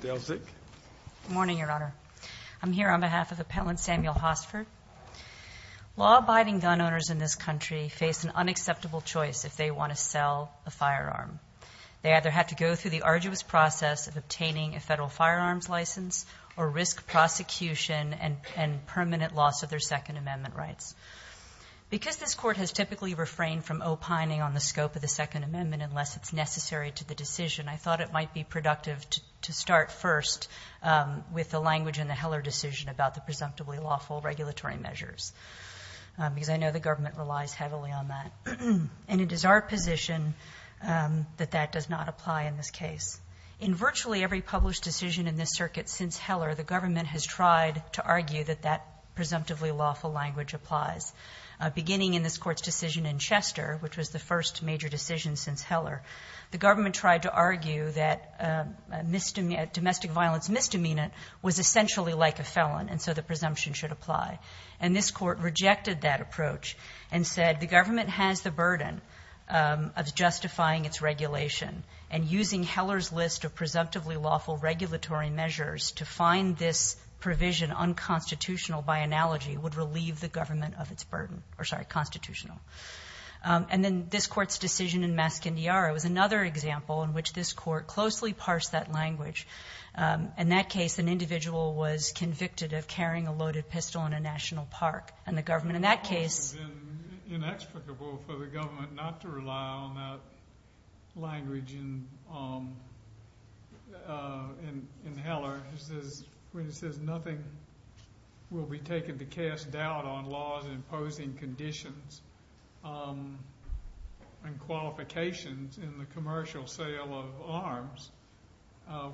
Good morning, Your Honor. I'm here on behalf of Appellant Samuel Hosford. Law-abiding gun owners in this country face an unacceptable choice if they want to sell a firearm. They either have to go through the arduous process of obtaining a federal firearms license or risk prosecution and permanent loss of their Second Amendment rights. Because this Court has typically refrained from opining on the scope of the Second Amendment unless it's necessary to the decision, I thought it might be productive to start first with the language in the Heller decision about the presumptively lawful regulatory measures, because I know the government relies heavily on that. And it is our position that that does not apply in this case. In virtually every published decision in this circuit since Heller, the government has tried to argue that that presumptively lawful language applies. Beginning in this Court's decision in Chester, which was the first major decision since Heller, the government tried to argue that domestic violence misdemeanant was essentially like a felon, and so the presumption should apply. And this Court rejected that approach and said the government has the burden of justifying its regulation, and using Heller's list of presumptively lawful regulatory measures to find this provision unconstitutional by analogy would relieve the government of its burden. Or, sorry, constitutional. And then this Court's decision in Mascandiara was another example in which this Court closely parsed that language. In that case, an individual was convicted of carrying a loaded pistol in a national park, and the government in that case... It would have been inexplicable for the government not to rely on that language in Heller, when it says nothing will be taken to cast doubt on laws imposing conditions and qualifications in the commercial sale of arms.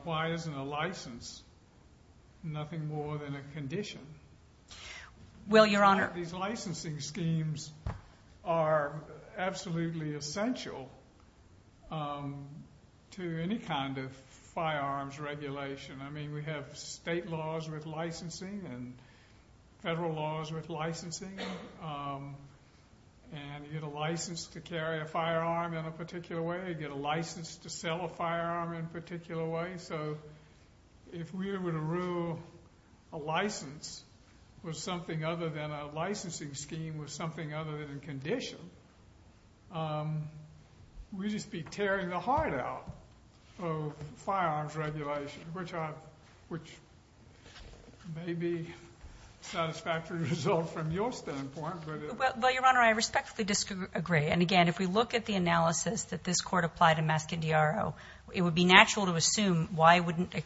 Why isn't a license nothing more than a condition? Well, Your Honor... These licensing schemes are absolutely essential to any kind of firearms regulation. I mean, we have state laws with licensing and federal laws with licensing, and you get a license to carry a firearm in a particular way, you get a license to sell a firearm in a particular way. So if we were to rule a license was something other than a licensing scheme was something other than a condition, we'd just be tearing the heart out of firearms regulation, which may be a satisfactory result from your standpoint, but... Well, Your Honor, I respectfully disagree. And, again, if we look at the analysis that this Court applied in Mascandiaro, it would be natural to assume why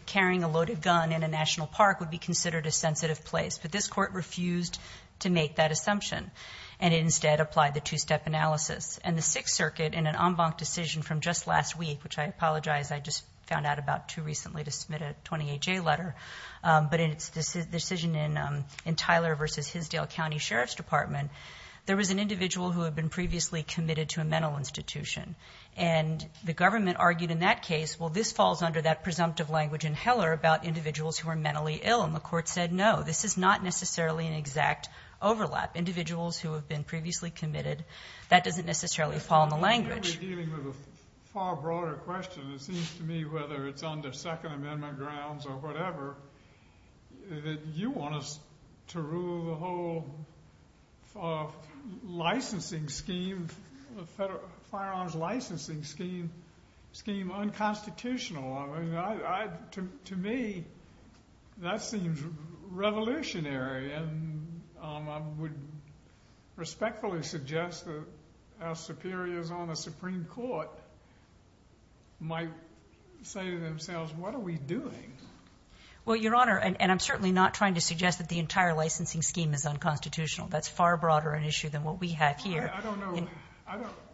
carrying a loaded gun in a national park would be considered a sensitive place, but this Court refused to make that assumption and instead applied the two-step analysis. And the Sixth Circuit, in an en banc decision from just last week, which I apologize, I just found out about too recently to submit a 28-J letter, but in its decision in Tyler v. Hinsdale County Sheriff's Department, there was an individual who had been previously committed to a mental health institution. And the government argued in that case, well, this falls under that presumptive language in Heller about individuals who are mentally ill. And the Court said, no, this is not necessarily an exact overlap. Individuals who have been previously committed, that doesn't necessarily fall in the language. You're dealing with a far broader question. It seems to me, whether it's under Second Amendment grounds or whatever, that you want us to rule the whole licensing scheme unconstitutional. To me, that seems revolutionary and I would respectfully suggest that our superiors on the Supreme Court might say to themselves, what are we doing? Well, Your Honor, and I'm certainly not trying to suggest that the entire licensing scheme is unconstitutional. That's far broader an issue than what we have here. I don't know.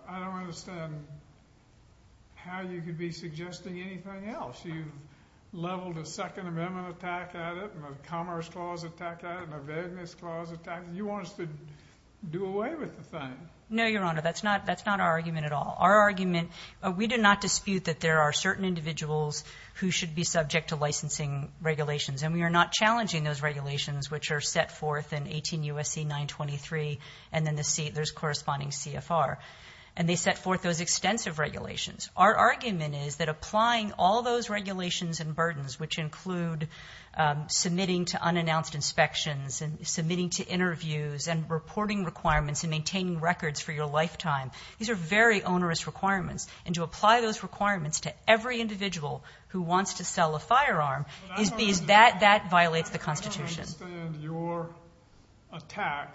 I don't understand how you could be suggesting anything else. You've leveled a Second Amendment attack at it and a Commerce Clause attack at it and a Vagueness Clause attack. You want us to do away with the thing. No, Your Honor, that's not our argument at all. Our argument, we do not dispute that there are certain individuals who should be subject to licensing regulations. And we are not challenging those regulations, which are set forth in 18 U.S.C. 923 and then the U.S. corresponding CFR. And they set forth those extensive regulations. Our argument is that applying all those regulations and burdens, which include submitting to unannounced inspections and submitting to interviews and reporting requirements and maintaining records for your lifetime, these are very onerous requirements. And to apply those requirements to every individual who wants to sell a firearm, that violates the Constitution. I understand your attack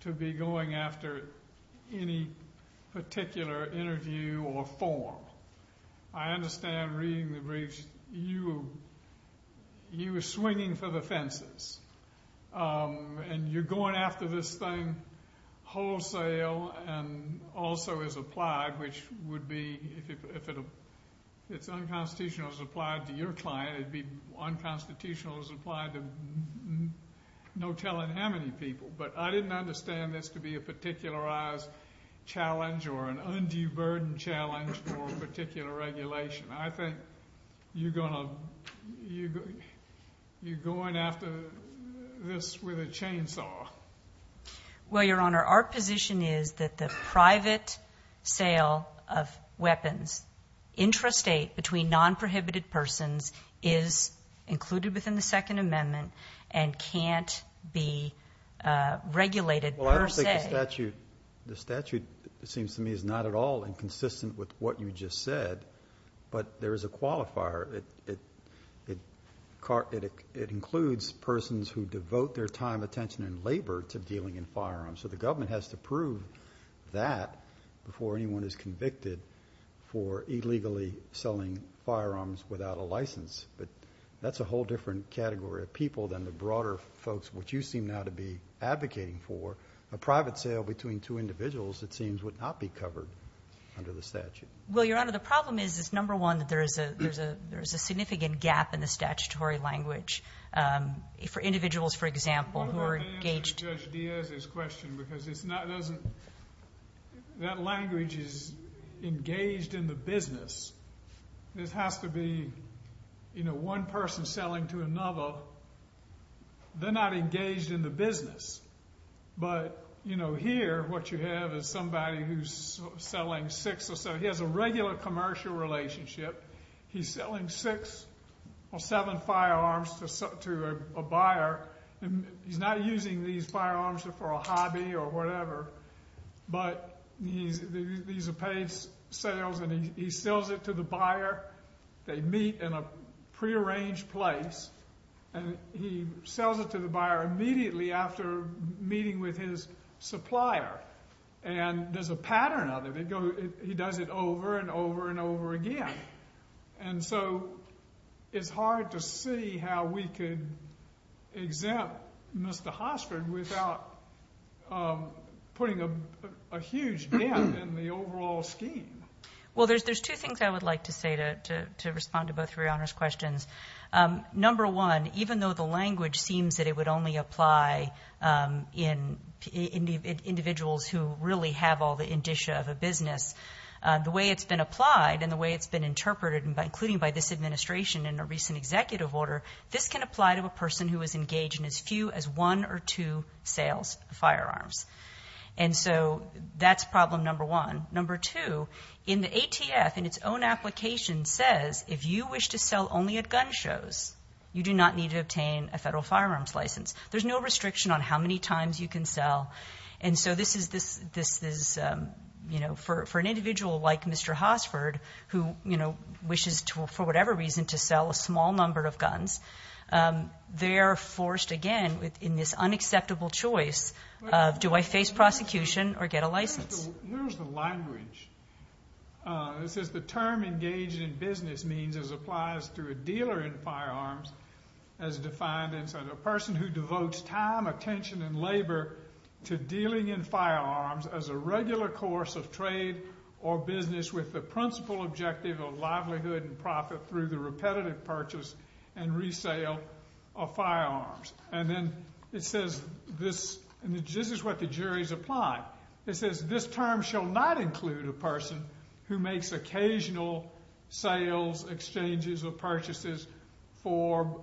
to be going after any particular interview or form. I understand reading the briefs, you were swinging for the fences. And you're going after this thing wholesale and also is applied, which would be, if it's unconstitutional, it's applied to your client, it'd be unconstitutional, it's applied to no telling how many people. But I didn't understand this to be a particularized challenge or an undue burden challenge for a particular regulation. I think you're going after this with a chainsaw. Well, Your Honor, our position is that the private sale of weapons intrastate between non-prohibited persons is included within the Second Amendment and can't be regulated per se. Well, I don't think the statute, the statute, it seems to me, is not at all inconsistent with what you just said. But there is a qualifier. It includes persons who devote their time, attention, and labor to dealing in firearms. So the government has to prove that before anyone is convicted for illegally selling firearms without a license. But that's a whole different category of people than the broader folks, which you seem now to be advocating for. A private sale between two individuals, it seems, would not be covered under the statute. Well, Your Honor, the problem is, number one, that there is a significant gap in the statutory language for individuals, for example, who are engaged. I agree with Judge Diaz's question because that language is engaged in the business. It has to be one person selling to another. They're not engaged in the business. But here, what you have is somebody who's selling six or seven. He has a regular commercial relationship. He's selling six or seven firearms to a buyer. He's not using these firearms for a hobby or whatever, but these are paid sales and he sells it to the buyer. They meet in a prearranged place, and he sells it to the buyer immediately after meeting with his supplier. And there's a pattern of it. He does it over and over and over again. And so it's hard to see how we could exempt Mr. Hosford without putting a huge dent in the overall scheme. Well, there's two things I would like to say to respond to both of Your Honor's questions. Number one, even though the language seems that it would only apply in individuals who really have all the indicia of a business, the way it's been applied and the way it's been interpreted, including by this administration in a recent executive order, this can apply to a person who is engaged in as few as one or two sales of firearms. And so that's problem number one. Number two, in the ATF, in its own application, says if you wish to sell only at gun shows, you do not need to obtain a federal firearms license. There's no restriction on how many times you can sell. And so this is, you know, for an individual like Mr. Hosford who, you know, wishes for whatever reason to sell a small number of guns, they're forced again in this unacceptable choice of do I face prosecution or get a license? Here's the language. It says the term engaged in business means as applies to a dealer in labor to dealing in firearms as a regular course of trade or business with the principal objective of livelihood and profit through the repetitive purchase and resale of firearms. And then it says this, and this is what the jury's applied. It says this term shall not include a person who makes occasional sales, exchanges, or purchases for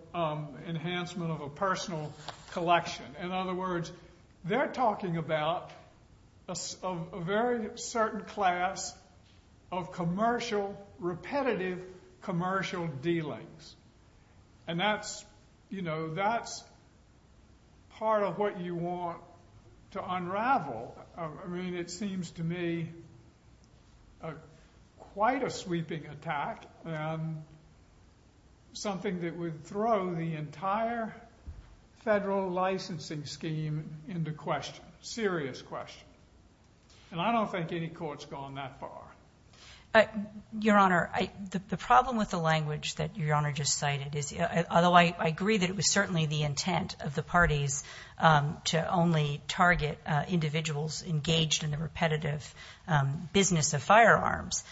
enhancement of personal collection. In other words, they're talking about a very certain class of commercial, repetitive commercial dealings. And that's, you know, that's part of what you want to unravel. I mean, it seems to me quite a sweeping attack and something that would throw the entire federal licensing scheme into question, serious question. And I don't think any court's gone that far. Your Honor, the problem with the language that Your Honor just cited is, although I agree that it was certainly the intent of the parties to only target individuals engaged in the repetitive business of firearms,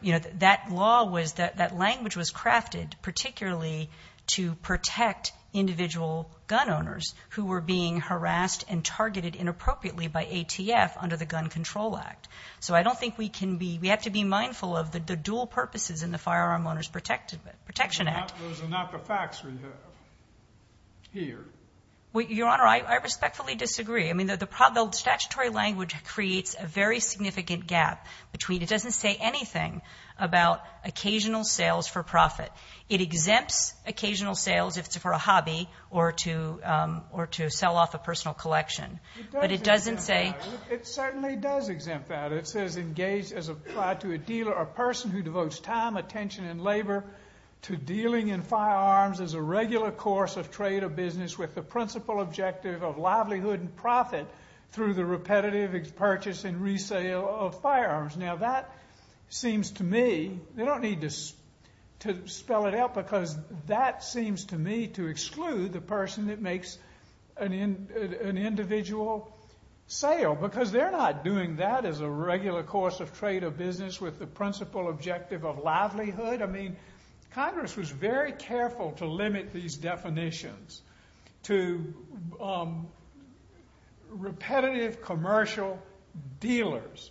you know, that law was, that language was crafted particularly to protect individual gun owners who were being harassed and targeted inappropriately by ATF under the Gun Control Act. So I don't think we can be, we have to be mindful of the dual purposes in the Firearm Owners Protection Act. Those are not the facts we have here. Your Honor, I respectfully disagree. I mean, the statutory language creates a very It exempts occasional sales if it's for a hobby or to sell off a personal collection. But it doesn't say It certainly does exempt that. It says engaged as applied to a dealer or person who devotes time, attention, and labor to dealing in firearms as a regular course of trade or business with the principal objective of livelihood and profit through the repetitive purchase and that seems to me to exclude the person that makes an individual sale, because they're not doing that as a regular course of trade or business with the principal objective of livelihood. I mean, Congress was very careful to limit these definitions to repetitive commercial dealers.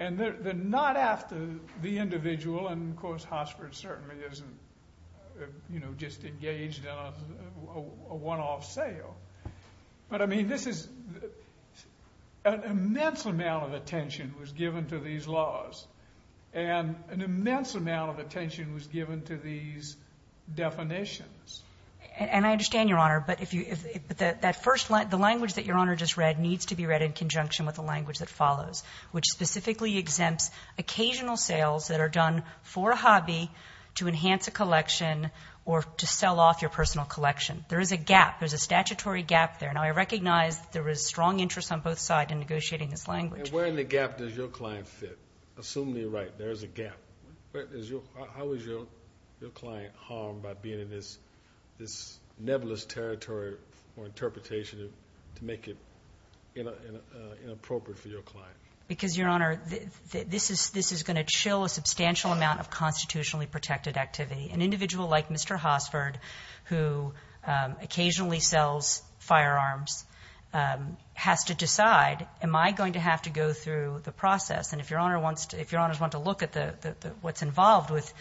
And they're not after the individual, and of course, Hossford certainly isn't, you know, just engaged in a one-off sale. But I mean, this is, an immense amount of attention was given to these laws. And an immense amount of attention was given to these definitions. And I understand, Your Honor, but if you, that first line, the language that Your Honor just read needs to be read in conjunction with the language that follows, which specifically exempts occasional sales that are done for a hobby to enhance a collection or to sell off your personal collection. There is a gap. There's a statutory gap there. Now, I recognize there is strong interest on both sides in negotiating this language. And where in the gap does your client fit? Assuming you're right, there is a gap. How is your client harmed by being in this nebulous territory for interpretation to make it inappropriate for your client? Because, Your Honor, this is going to chill a substantial amount of constitutionally protected activity. An individual like Mr. Hossford, who occasionally sells firearms, has to decide, am I going to have to go through the process? And if Your Honor wants to look at what's involved with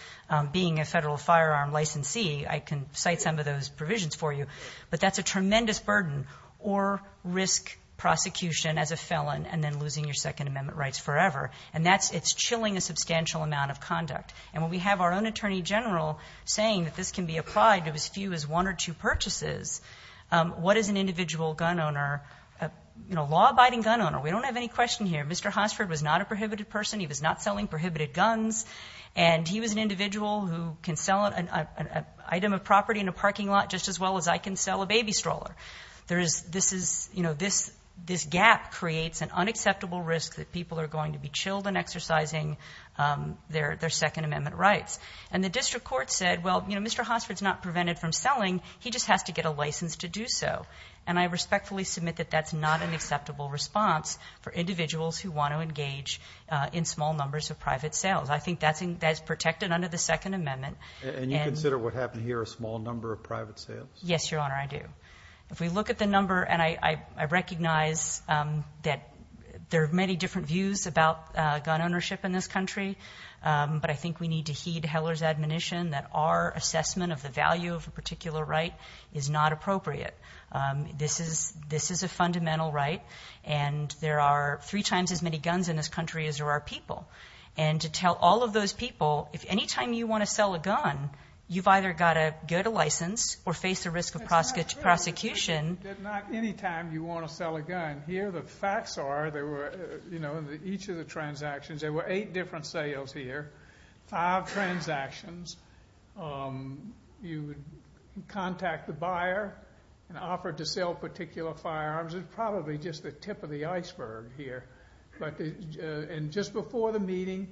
being a federal firearm licensee, I can cite some of those provisions for you. But that's a tremendous burden or risk prosecution as a felon and then losing your Second Amendment rights forever. And that's, it's chilling a substantial amount of conduct. And when we have our own Attorney General saying that this can be applied to as few as one or two purchases, what is an individual gun owner, you know, a law-abiding gun owner? We don't have any question here. Mr. Hossford was not a prohibited person. He was not selling prohibited guns. And he was an individual who can sell an item of property in a parking lot just as well as I can sell a baby stroller. There is, this is, you know, this gap creates an unacceptable risk that people are going to be chilled in exercising their Second Amendment rights. And the district court said, well, you know, Mr. Hossford's not prevented from selling. He just has to get a license to do so. And I respectfully submit that that's not an acceptable response for individuals who want to engage in small numbers of private sales. I think that's protected under the Second Amendment. And you consider what happened here a small number of private sales? Yes, Your Honor, I do. If we look at the number, and I recognize that there are many different views about gun ownership in this country, but I think we need to heed Heller's admonition that our assessment of the value of a particular right is not appropriate. This is, this is a fundamental right, and there are three times as many guns in this country as there are people. And to tell all of those people, if any time you want to sell a gun, you've either got to get a license or face the risk of prosecution. It's not true that not any time you want to sell a gun. Here the facts are, there were, you know, each of the transactions, there were eight different sales here, five transactions. You would contact the buyer and offer to sell particular firearms. It's probably just the tip of the iceberg here. And just before the meeting,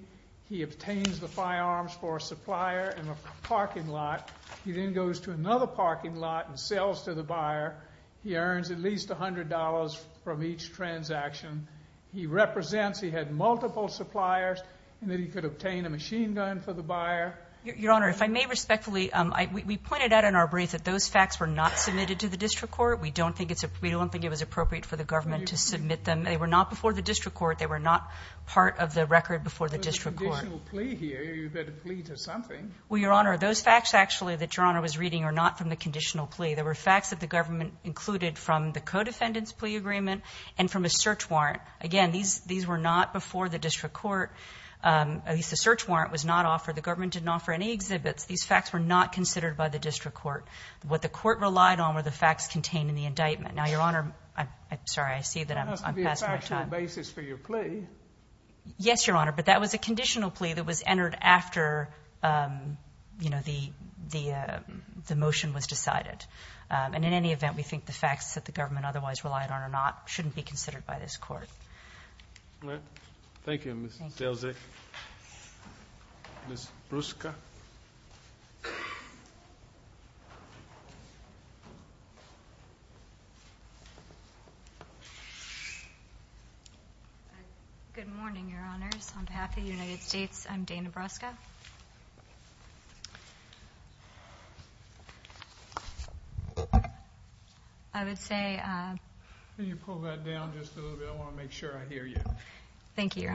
he obtains the firearms for a supplier in a parking lot. He then goes to another parking lot and sells to the buyer. He earns at least $100 from each transaction. He represents, he had multiple suppliers, and then he could obtain a machine gun for the buyer. Your Honor, if I may respectfully, we pointed out in our brief that those facts were not submitted to the district court. We don't think it's, we don't think it was appropriate for the government to submit them. They were not before the district court. They were not part of the record before the district court. There's a conditional plea here. You've got a plea to something. Well, Your Honor, those facts actually that Your Honor was reading are not from the conditional plea. They were facts that the government included from the co-defendant's plea agreement and from a search warrant. Again, these were not before the district court. At least the search warrant was not offered. The government didn't offer any exhibits. These facts were not considered by the district court. What the court relied on were the facts contained in the indictment. Now, Your Honor, I'm sorry, I see that I'm passing my time. It has to be a factual basis for your plea. Yes, Your Honor, but that was a conditional plea that was entered after, you know, the motion was decided. And in any event, we think the facts that the government otherwise relied on or not shouldn't be considered by this court. All right. Thank you, Ms. Delzick. Ms. Brusca. Good morning, Your Honors. On behalf of the United States, I'm Dana Brusca. I would say... Can you pull that down just a little bit? I want to make sure I hear you. Thank you, Your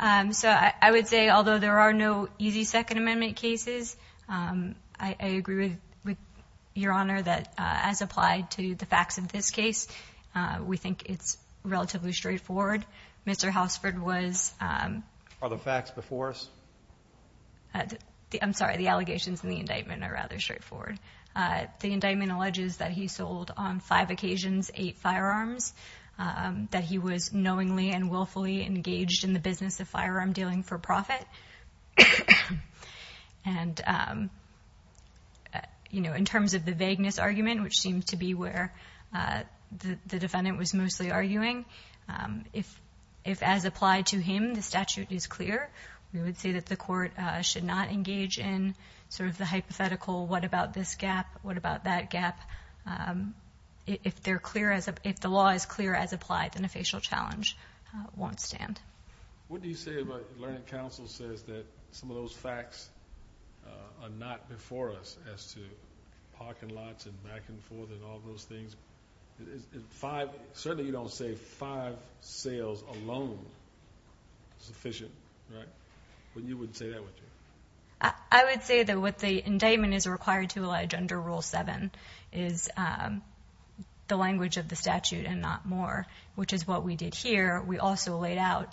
Honor. So I would say, although there are no easy Second Amendment cases, I agree with Your Honor that as applied to the facts in this case, we think it's relatively straightforward. Mr. Hausford was... Are the facts before us? I'm sorry. The allegations in the indictment are rather straightforward. The indictment alleges that he sold on five occasions eight firearms, that he was knowingly and willfully engaged in the business of firearm dealing for profit. And, you know, in terms of the vagueness argument, which seems to be where the defendant was clear, we would say that the court should not engage in sort of the hypothetical, what about this gap? What about that gap? If the law is clear as applied, then a facial challenge won't stand. What do you say about learning counsel says that some of those facts are not before us as to parking lots and back and forth and all those things? Certainly you don't say five sales alone sufficient, right? You wouldn't say that, would you? I would say that what the indictment is required to allege under Rule 7 is the language of the statute and not more, which is what we did here. We also laid out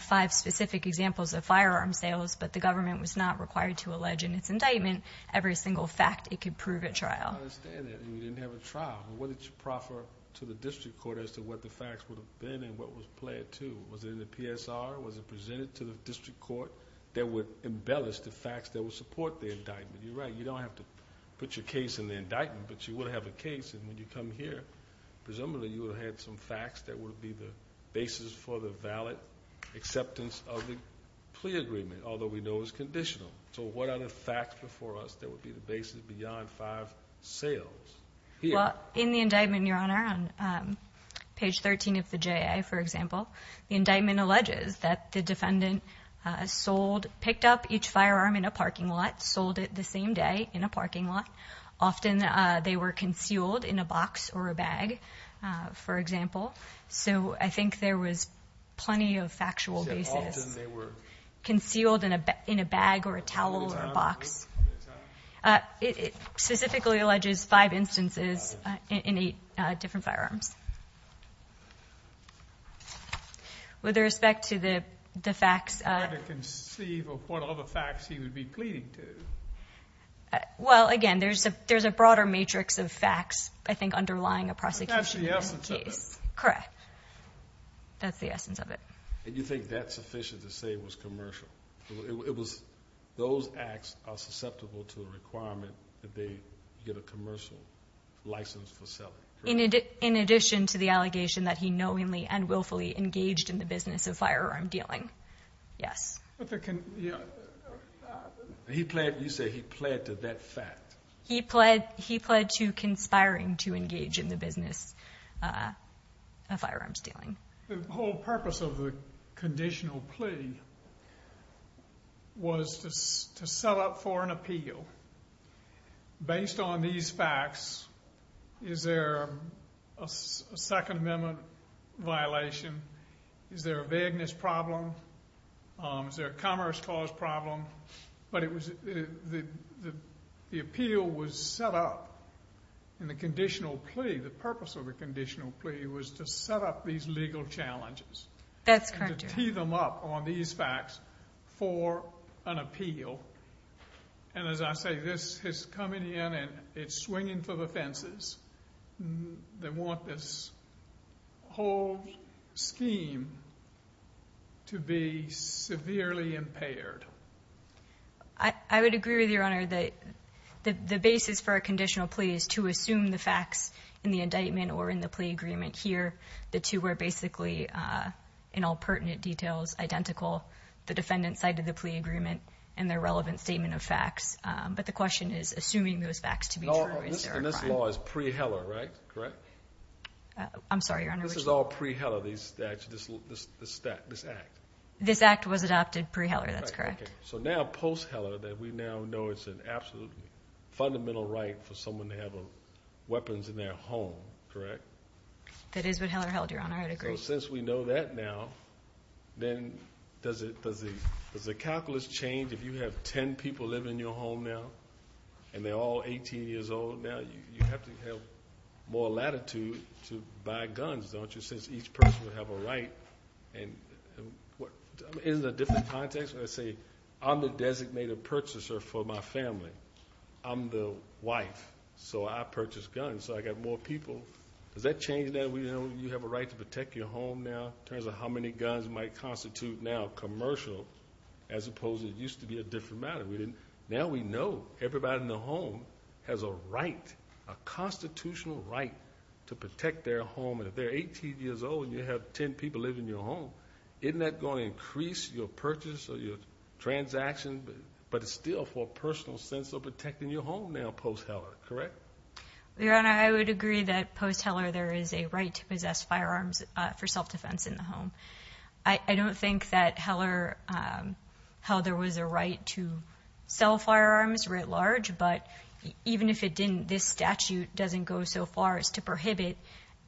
five specific examples of firearm sales, but the government was not required to allege in its indictment every single fact it could prove at trial. I don't understand that. You didn't have a trial. What did you proffer to the district court as to what the facts would have been and what was pled to? Was it in the PSR? Was it presented to the district court that would embellish the facts that would support the indictment? You're right. You don't have to put your case in the indictment, but you would have a case. And when you come here, presumably you would have had some facts that would be the basis for the valid acceptance of the plea agreement, although we know it's conditional. So what are the facts before us that would be the basis beyond five sales here? Well, in the indictment, Your Honor, on page 13 of the J.A., for example, the indictment alleges that the defendant sold, picked up each firearm in a parking lot, sold it the same day in a parking lot. Often they were concealed in a box or a bag, for example. So I think there was plenty of factual basis. Concealed in a bag or a towel or a box. It specifically alleges five instances in eight different firearms. With respect to the facts. Trying to conceive of what other facts he would be pleading to. Well, again, there's a broader matrix of facts, I think, underlying a prosecution case. That's the essence of it. Correct. That's the essence of it. And you think that's sufficient to say it was commercial? It was those acts are susceptible to a requirement that they get a commercial license for selling. In addition to the allegation that he knowingly and willfully engaged in the business of firearm dealing. Yes. You say he pled to that fact. He pled to conspiring to engage in the business of firearms dealing. The whole purpose of the conditional plea was to set up for an appeal. Based on these facts, is there a Second Amendment violation? Is there a vagueness problem? Is there a commerce cause problem? But the appeal was set up in the conditional plea. The purpose of the conditional plea was to set up these legal challenges. That's correct, Your Honor. And to tee them up on these facts for an appeal. And as I say, this is coming in and it's swinging for the fences. They want this whole scheme to be severely impaired. I would agree with you, Your Honor, that the basis for a conditional plea is to assume the facts in the indictment or in the plea agreement here. The two were basically, in all pertinent details, identical. The defendant cited the plea agreement and their relevant statement of facts. But the question is assuming those facts to be true. And this law is pre-Heller, right? I'm sorry, Your Honor. This is all pre-Heller, this act? This act was adopted pre-Heller. That's correct. So now post-Heller, we now know it's an absolute fundamental right for someone to have weapons in their home, correct? That is what Heller held, Your Honor. I would agree. So since we know that now, then does the calculus change? If you have ten people living in your home now and they're all 18 years old now, you have to have more latitude to buy guns, don't you? Since each person would have a right. In a different context, let's say I'm the designated purchaser for my family. I'm the wife, so I purchase guns, so I got more people. Does that change that you have a right to protect your home now in terms of how many guns might constitute now commercial as opposed to it used to be a different matter? Now we know everybody in the home has a right, a constitutional right to protect their home. If they're 18 years old and you have ten people living in your home, isn't that going to increase your purchase or your transaction, but it's still for a personal sense of protecting your home now post-Heller, correct? Your Honor, I would agree that post-Heller there is a right to possess firearms for self-defense in the home. I don't think that Heller held there was a right to sell firearms writ large, but even if it didn't, this statute doesn't go so far as to prohibit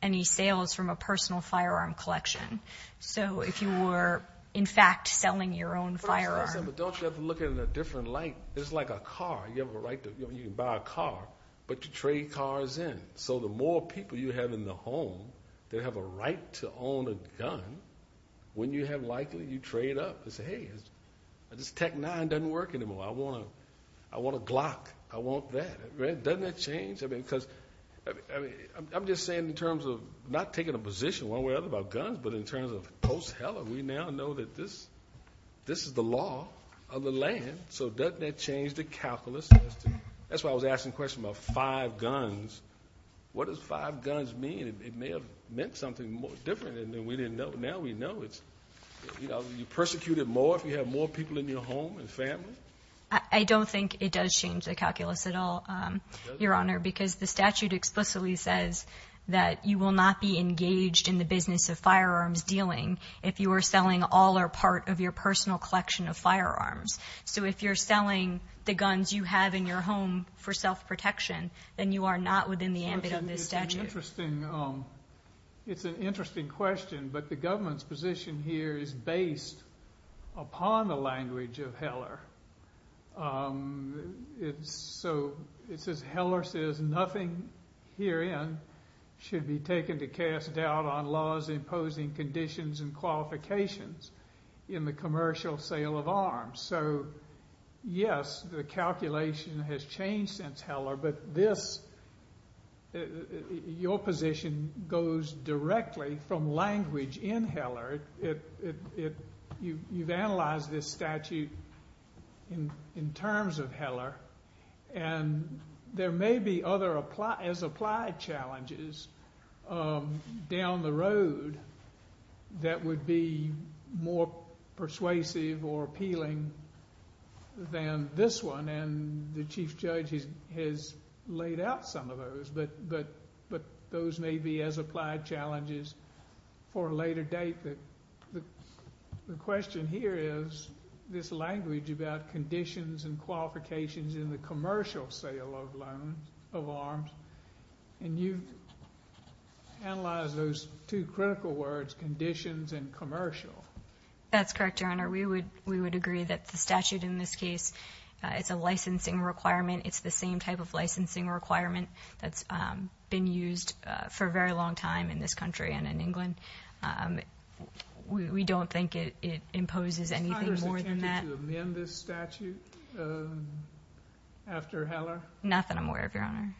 any sales from a personal firearm collection. So if you were, in fact, selling your own firearm. But don't you have to look at it in a different light? It's like a car. You have a right to buy a car, but to trade cars in. So the more people you have in the home that have a right to own a gun, when you have likely you trade up and say, hey, this Tech 9 doesn't work anymore. I want a Glock. I want that. Doesn't that change? I mean, because I'm just saying in terms of not taking a position one way or the other about guns, but in terms of post-Heller, we now know that this is the law of the land. So doesn't that change the calculus? That's why I was asking the question about five guns. What does five guns mean? It may have meant something more different than we didn't know. But now we know. You know, you persecute it more if you have more people in your home and family. I don't think it does change the calculus at all, Your Honor, because the statute explicitly says that you will not be engaged in the business of firearms dealing if you are selling all or part of your personal collection of firearms. So if you're selling the guns you have in your home for self-protection, then you are not within the ambit of this statute. It's an interesting question, but the government's position here is based upon the language of Heller. So it says, Heller says nothing herein should be taken to cast doubt on laws imposing conditions and qualifications in the commercial sale of arms. So yes, the calculation has changed since Heller, but your position goes directly from language in Heller. You've analyzed this statute in terms of Heller, and there may be other as-applied challenges down the road that would be more persuasive or appealing than this one. And the Chief Judge has laid out some of those, but those may be as-applied challenges for a later date. But the question here is this language about conditions and qualifications in the commercial sale of arms, and you've analyzed those two critical words, conditions and commercial. That's correct, Your Honor. We would agree that the statute in this case, it's a licensing requirement. It's the same type of licensing requirement that's been used for a very long time in this country and in England. We don't think it imposes anything more than that. Is Congress attempting to amend this statute after Heller? Not that I'm aware of, Your Honor.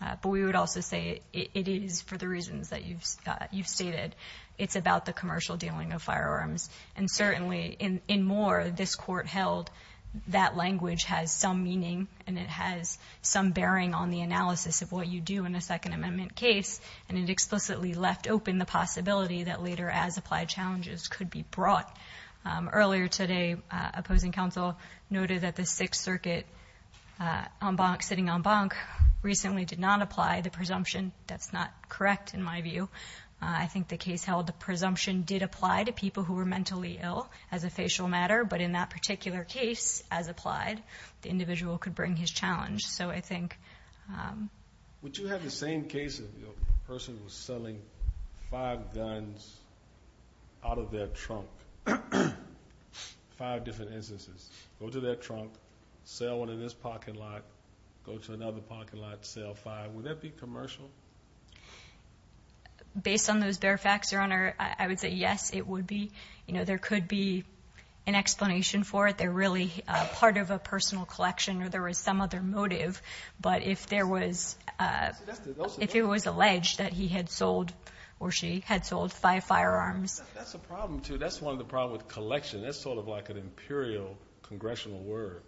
But we would also say it is for the reasons that you've stated. It's about the commercial dealing of firearms, and certainly in more this Court held that language has some meaning and it has some bearing on the analysis of what you do in a Second Amendment case, and it explicitly left open the possibility that later as-applied challenges could be brought. Earlier today, opposing counsel noted that the Sixth Circuit sitting en banc recently did not apply the presumption. That's not correct in my view. I think the case held the presumption did apply to people who were mentally ill as a facial matter, but in that particular case, as-applied, the individual could bring his challenge. So I think... Would you have the same case if the person was selling five guns out of their trunk? Five different instances. Go to their trunk, sell one in this parking lot, go to another parking lot, sell five. Would that be commercial? Based on those bare facts, Your Honor, I would say yes, it would be. You know, there could be an explanation for it. They're really part of a personal collection or there was some other motive. But if there was alleged that he had sold or she had sold five firearms. That's a problem, too. That's one of the problems with collection. That's sort of like an imperial congressional word.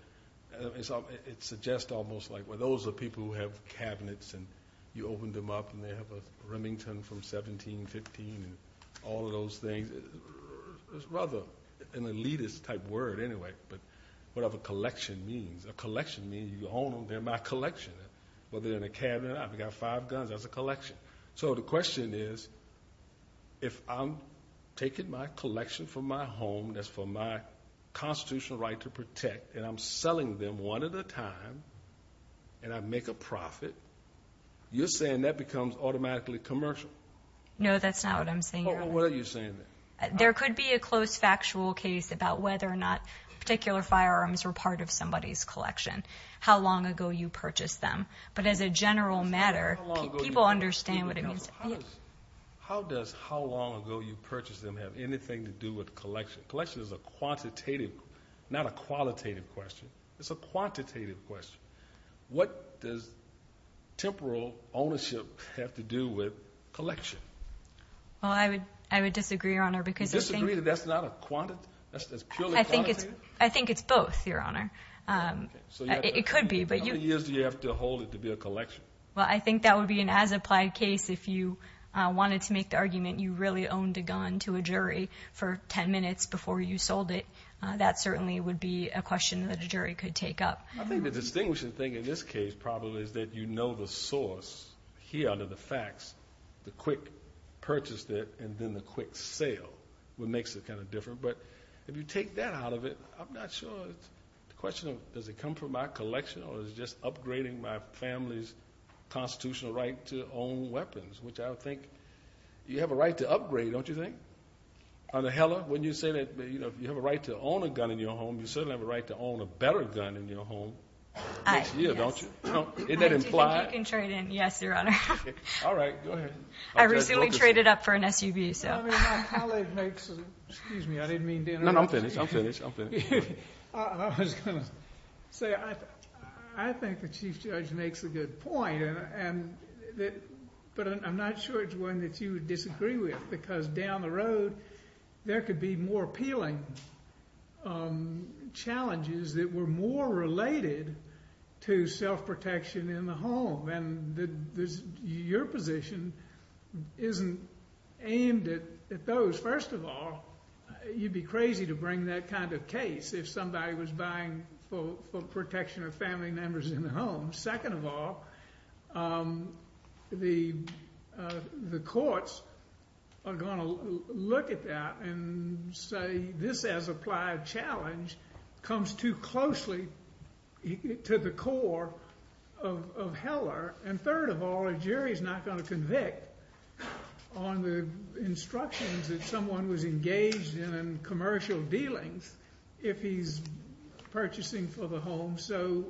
It suggests almost like, well, those are people who have cabinets and you open them up and they have a Remington from 1715 and all of those things. It's rather an elitist-type word anyway. But whatever collection means. A collection means you own them, they're my collection. Whether they're in a cabinet, I've got five guns, that's a collection. So the question is, if I'm taking my collection from my home, that's for my constitutional right to protect, and I'm selling them one at a time and I make a profit, you're saying that becomes automatically commercial? No, that's not what I'm saying, Your Honor. Well, what are you saying then? There could be a close factual case about whether or not particular firearms were part of somebody's collection, how long ago you purchased them. But as a general matter, people understand what it means. How does how long ago you purchased them have anything to do with collection? Collection is a quantitative, not a qualitative question. It's a quantitative question. What does temporal ownership have to do with collection? Well, I would disagree, Your Honor. Disagree that that's not a quantitative, that's purely quantitative? I think it's both, Your Honor. It could be. How many years do you have to hold it to be a collection? Well, I think that would be an as-applied case if you wanted to make the argument you really owned a gun to a jury for 10 minutes before you sold it. That certainly would be a question that a jury could take up. I think the distinguishing thing in this case probably is that you know the source here under the facts, the quick purchase there and then the quick sale, what makes it kind of different. But if you take that out of it, I'm not sure. The question of does it come from my collection or is it just upgrading my family's constitutional right to own weapons, which I would think you have a right to upgrade, don't you think? Under Heller, when you say that you have a right to own a gun in your home, you certainly have a right to own a better gun in your home next year, don't you? Do you think you can trade in? Yes, Your Honor. All right, go ahead. I recently traded up for an SUV. My colleague makes an excuse me. I didn't mean to interrupt you. No, no, I'm finished. I was going to say I think the Chief Judge makes a good point, but I'm not sure it's one that you would disagree with because down the road there could be more appealing challenges that were more related to self-protection in the home, and your position isn't aimed at those. First of all, you'd be crazy to bring that kind of case if somebody was buying for protection of family members in the home. Second of all, the courts are going to look at that and say this as applied challenge comes too closely to the core of Heller. And third of all, a jury is not going to convict on the instructions that someone was engaged in in commercial dealings if he's purchasing for the home. So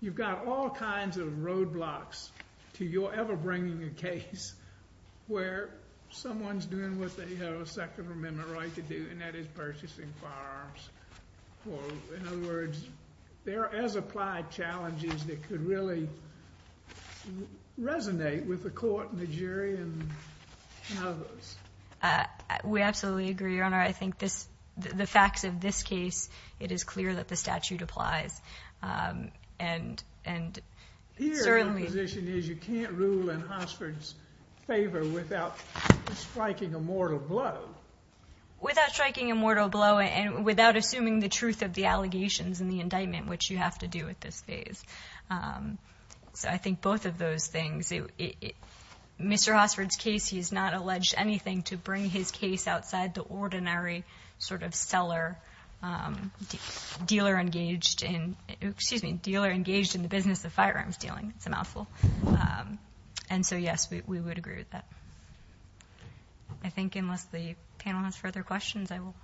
you've got all kinds of roadblocks to your ever bringing a case where someone's doing what they have a Second Amendment right to do, and that is purchasing firearms. In other words, there are as applied challenges that could really resonate with the court and the jury and others. We absolutely agree, Your Honor. I think the facts of this case, it is clear that the statute applies. Here, my position is you can't rule in Hossford's favor without striking a mortal blow. Without striking a mortal blow and without assuming the truth of the allegations and the indictment, which you have to do at this phase. So I think both of those things, Mr. Hossford's case, he's not alleged anything to bring his case outside the ordinary sort of seller, dealer engaged in the business of firearms dealing. It's a mouthful. And so, yes, we would agree with that. I think unless the panel has further questions, I will.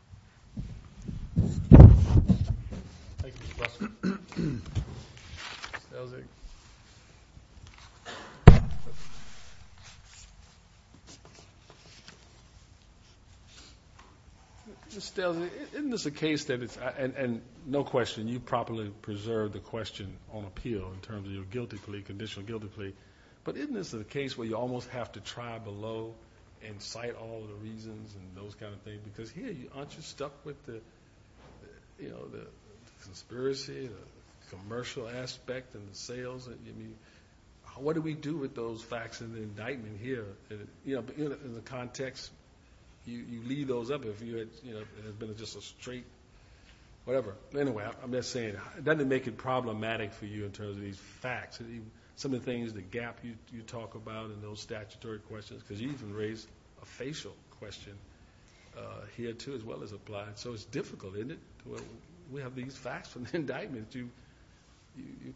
Thank you, Mr. Hossford. Ms. Stelzig. Ms. Stelzig, isn't this a case that it's, and no question, you properly preserved the question on appeal in terms of guilty plea, conditional guilty plea. But isn't this a case where you almost have to try below and cite all of the reasons and those kind of things? Because here, aren't you stuck with the conspiracy, the commercial aspect, and the sales? What do we do with those facts in the indictment here? In the context, you leave those up if it had been just a straight whatever. Anyway, I'm just saying, doesn't it make it problematic for you in terms of these facts? Some of the things, the gap you talk about in those statutory questions, because you even raised a facial question here, too, as well as applied. So it's difficult, isn't it? We have these facts from the indictment you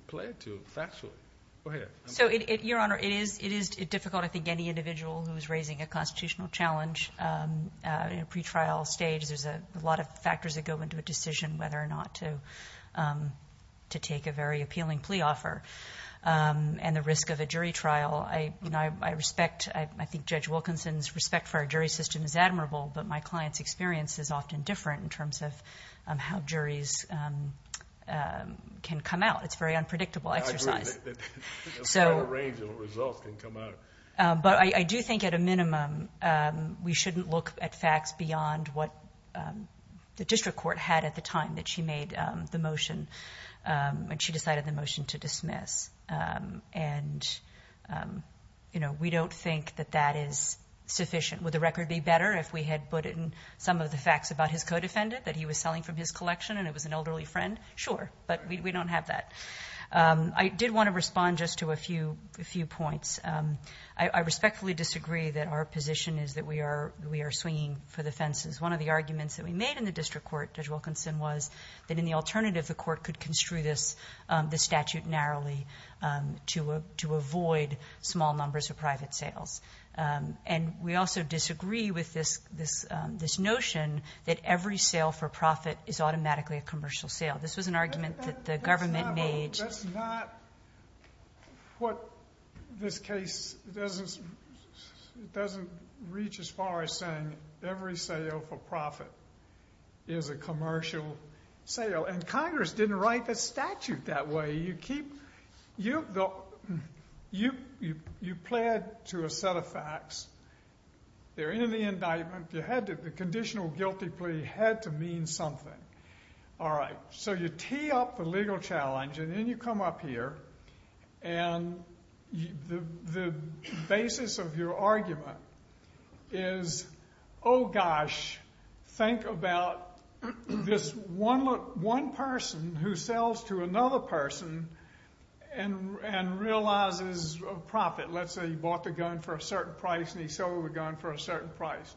play to factually. Go ahead. Your Honor, it is difficult. I think any individual who is raising a constitutional challenge in a pretrial stage, there's a lot of factors that go into a decision whether or not to take a very appealing plea offer. And the risk of a jury trial, I respect. I think Judge Wilkinson's respect for our jury system is admirable, but my client's experience is often different in terms of how juries can come out. It's a very unpredictable exercise. I agree. There's a range of results that can come out. But I do think at a minimum we shouldn't look at facts beyond what the district court had at the time that she made the motion, when she decided the motion to dismiss. And, you know, we don't think that that is sufficient. Would the record be better if we had put in some of the facts about his co-defendant that he was selling from his collection and it was an elderly friend? Sure. But we don't have that. I did want to respond just to a few points. I respectfully disagree that our position is that we are swinging for the fences. One of the arguments that we made in the district court, Judge Wilkinson, was that in the alternative the court could construe this statute narrowly to avoid small numbers of private sales. And we also disagree with this notion that every sale for profit is automatically a commercial sale. This was an argument that the government made. That's not what this case doesn't reach as far as saying every sale for profit is a commercial sale. And Congress didn't write the statute that way. You keep the – you pled to a set of facts. They're in the indictment. The conditional guilty plea had to mean something. All right. So you tee up the legal challenge and then you come up here and the basis of your argument is, oh gosh, think about this one person who sells to another person and realizes a profit. Let's say he bought the gun for a certain price and he sold the gun for a certain price.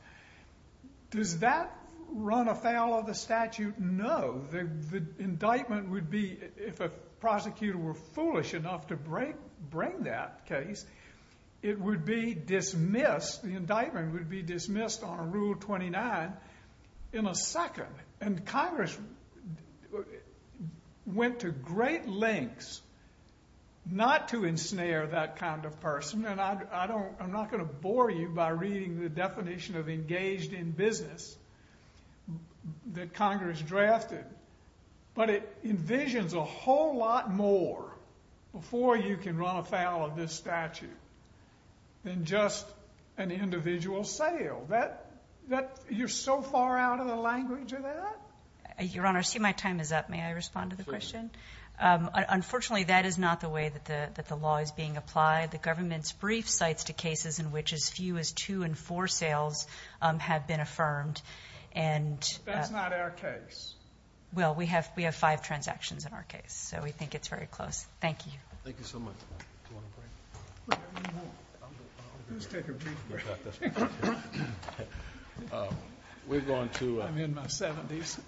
Does that run afoul of the statute? No. The indictment would be, if a prosecutor were foolish enough to bring that case, it would be dismissed. The indictment would be dismissed on Rule 29 in a second. And Congress went to great lengths not to ensnare that kind of person. I'm not going to bore you by reading the definition of engaged in business that Congress drafted, but it envisions a whole lot more before you can run afoul of this statute than just an individual sale. You're so far out of the language of that? Your Honor, I see my time is up. May I respond to the question? Certainly. Unfortunately, that is not the way that the law is being applied. The government's brief cites the cases in which as few as two in four sales have been affirmed. That's not our case. Well, we have five transactions in our case, so we think it's very close. Thank you. Thank you so much. Do you want a break? Let's take a brief break. I'm in my 70s.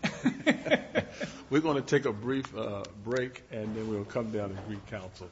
We're going to take a brief break, and then we'll come down and recounsel.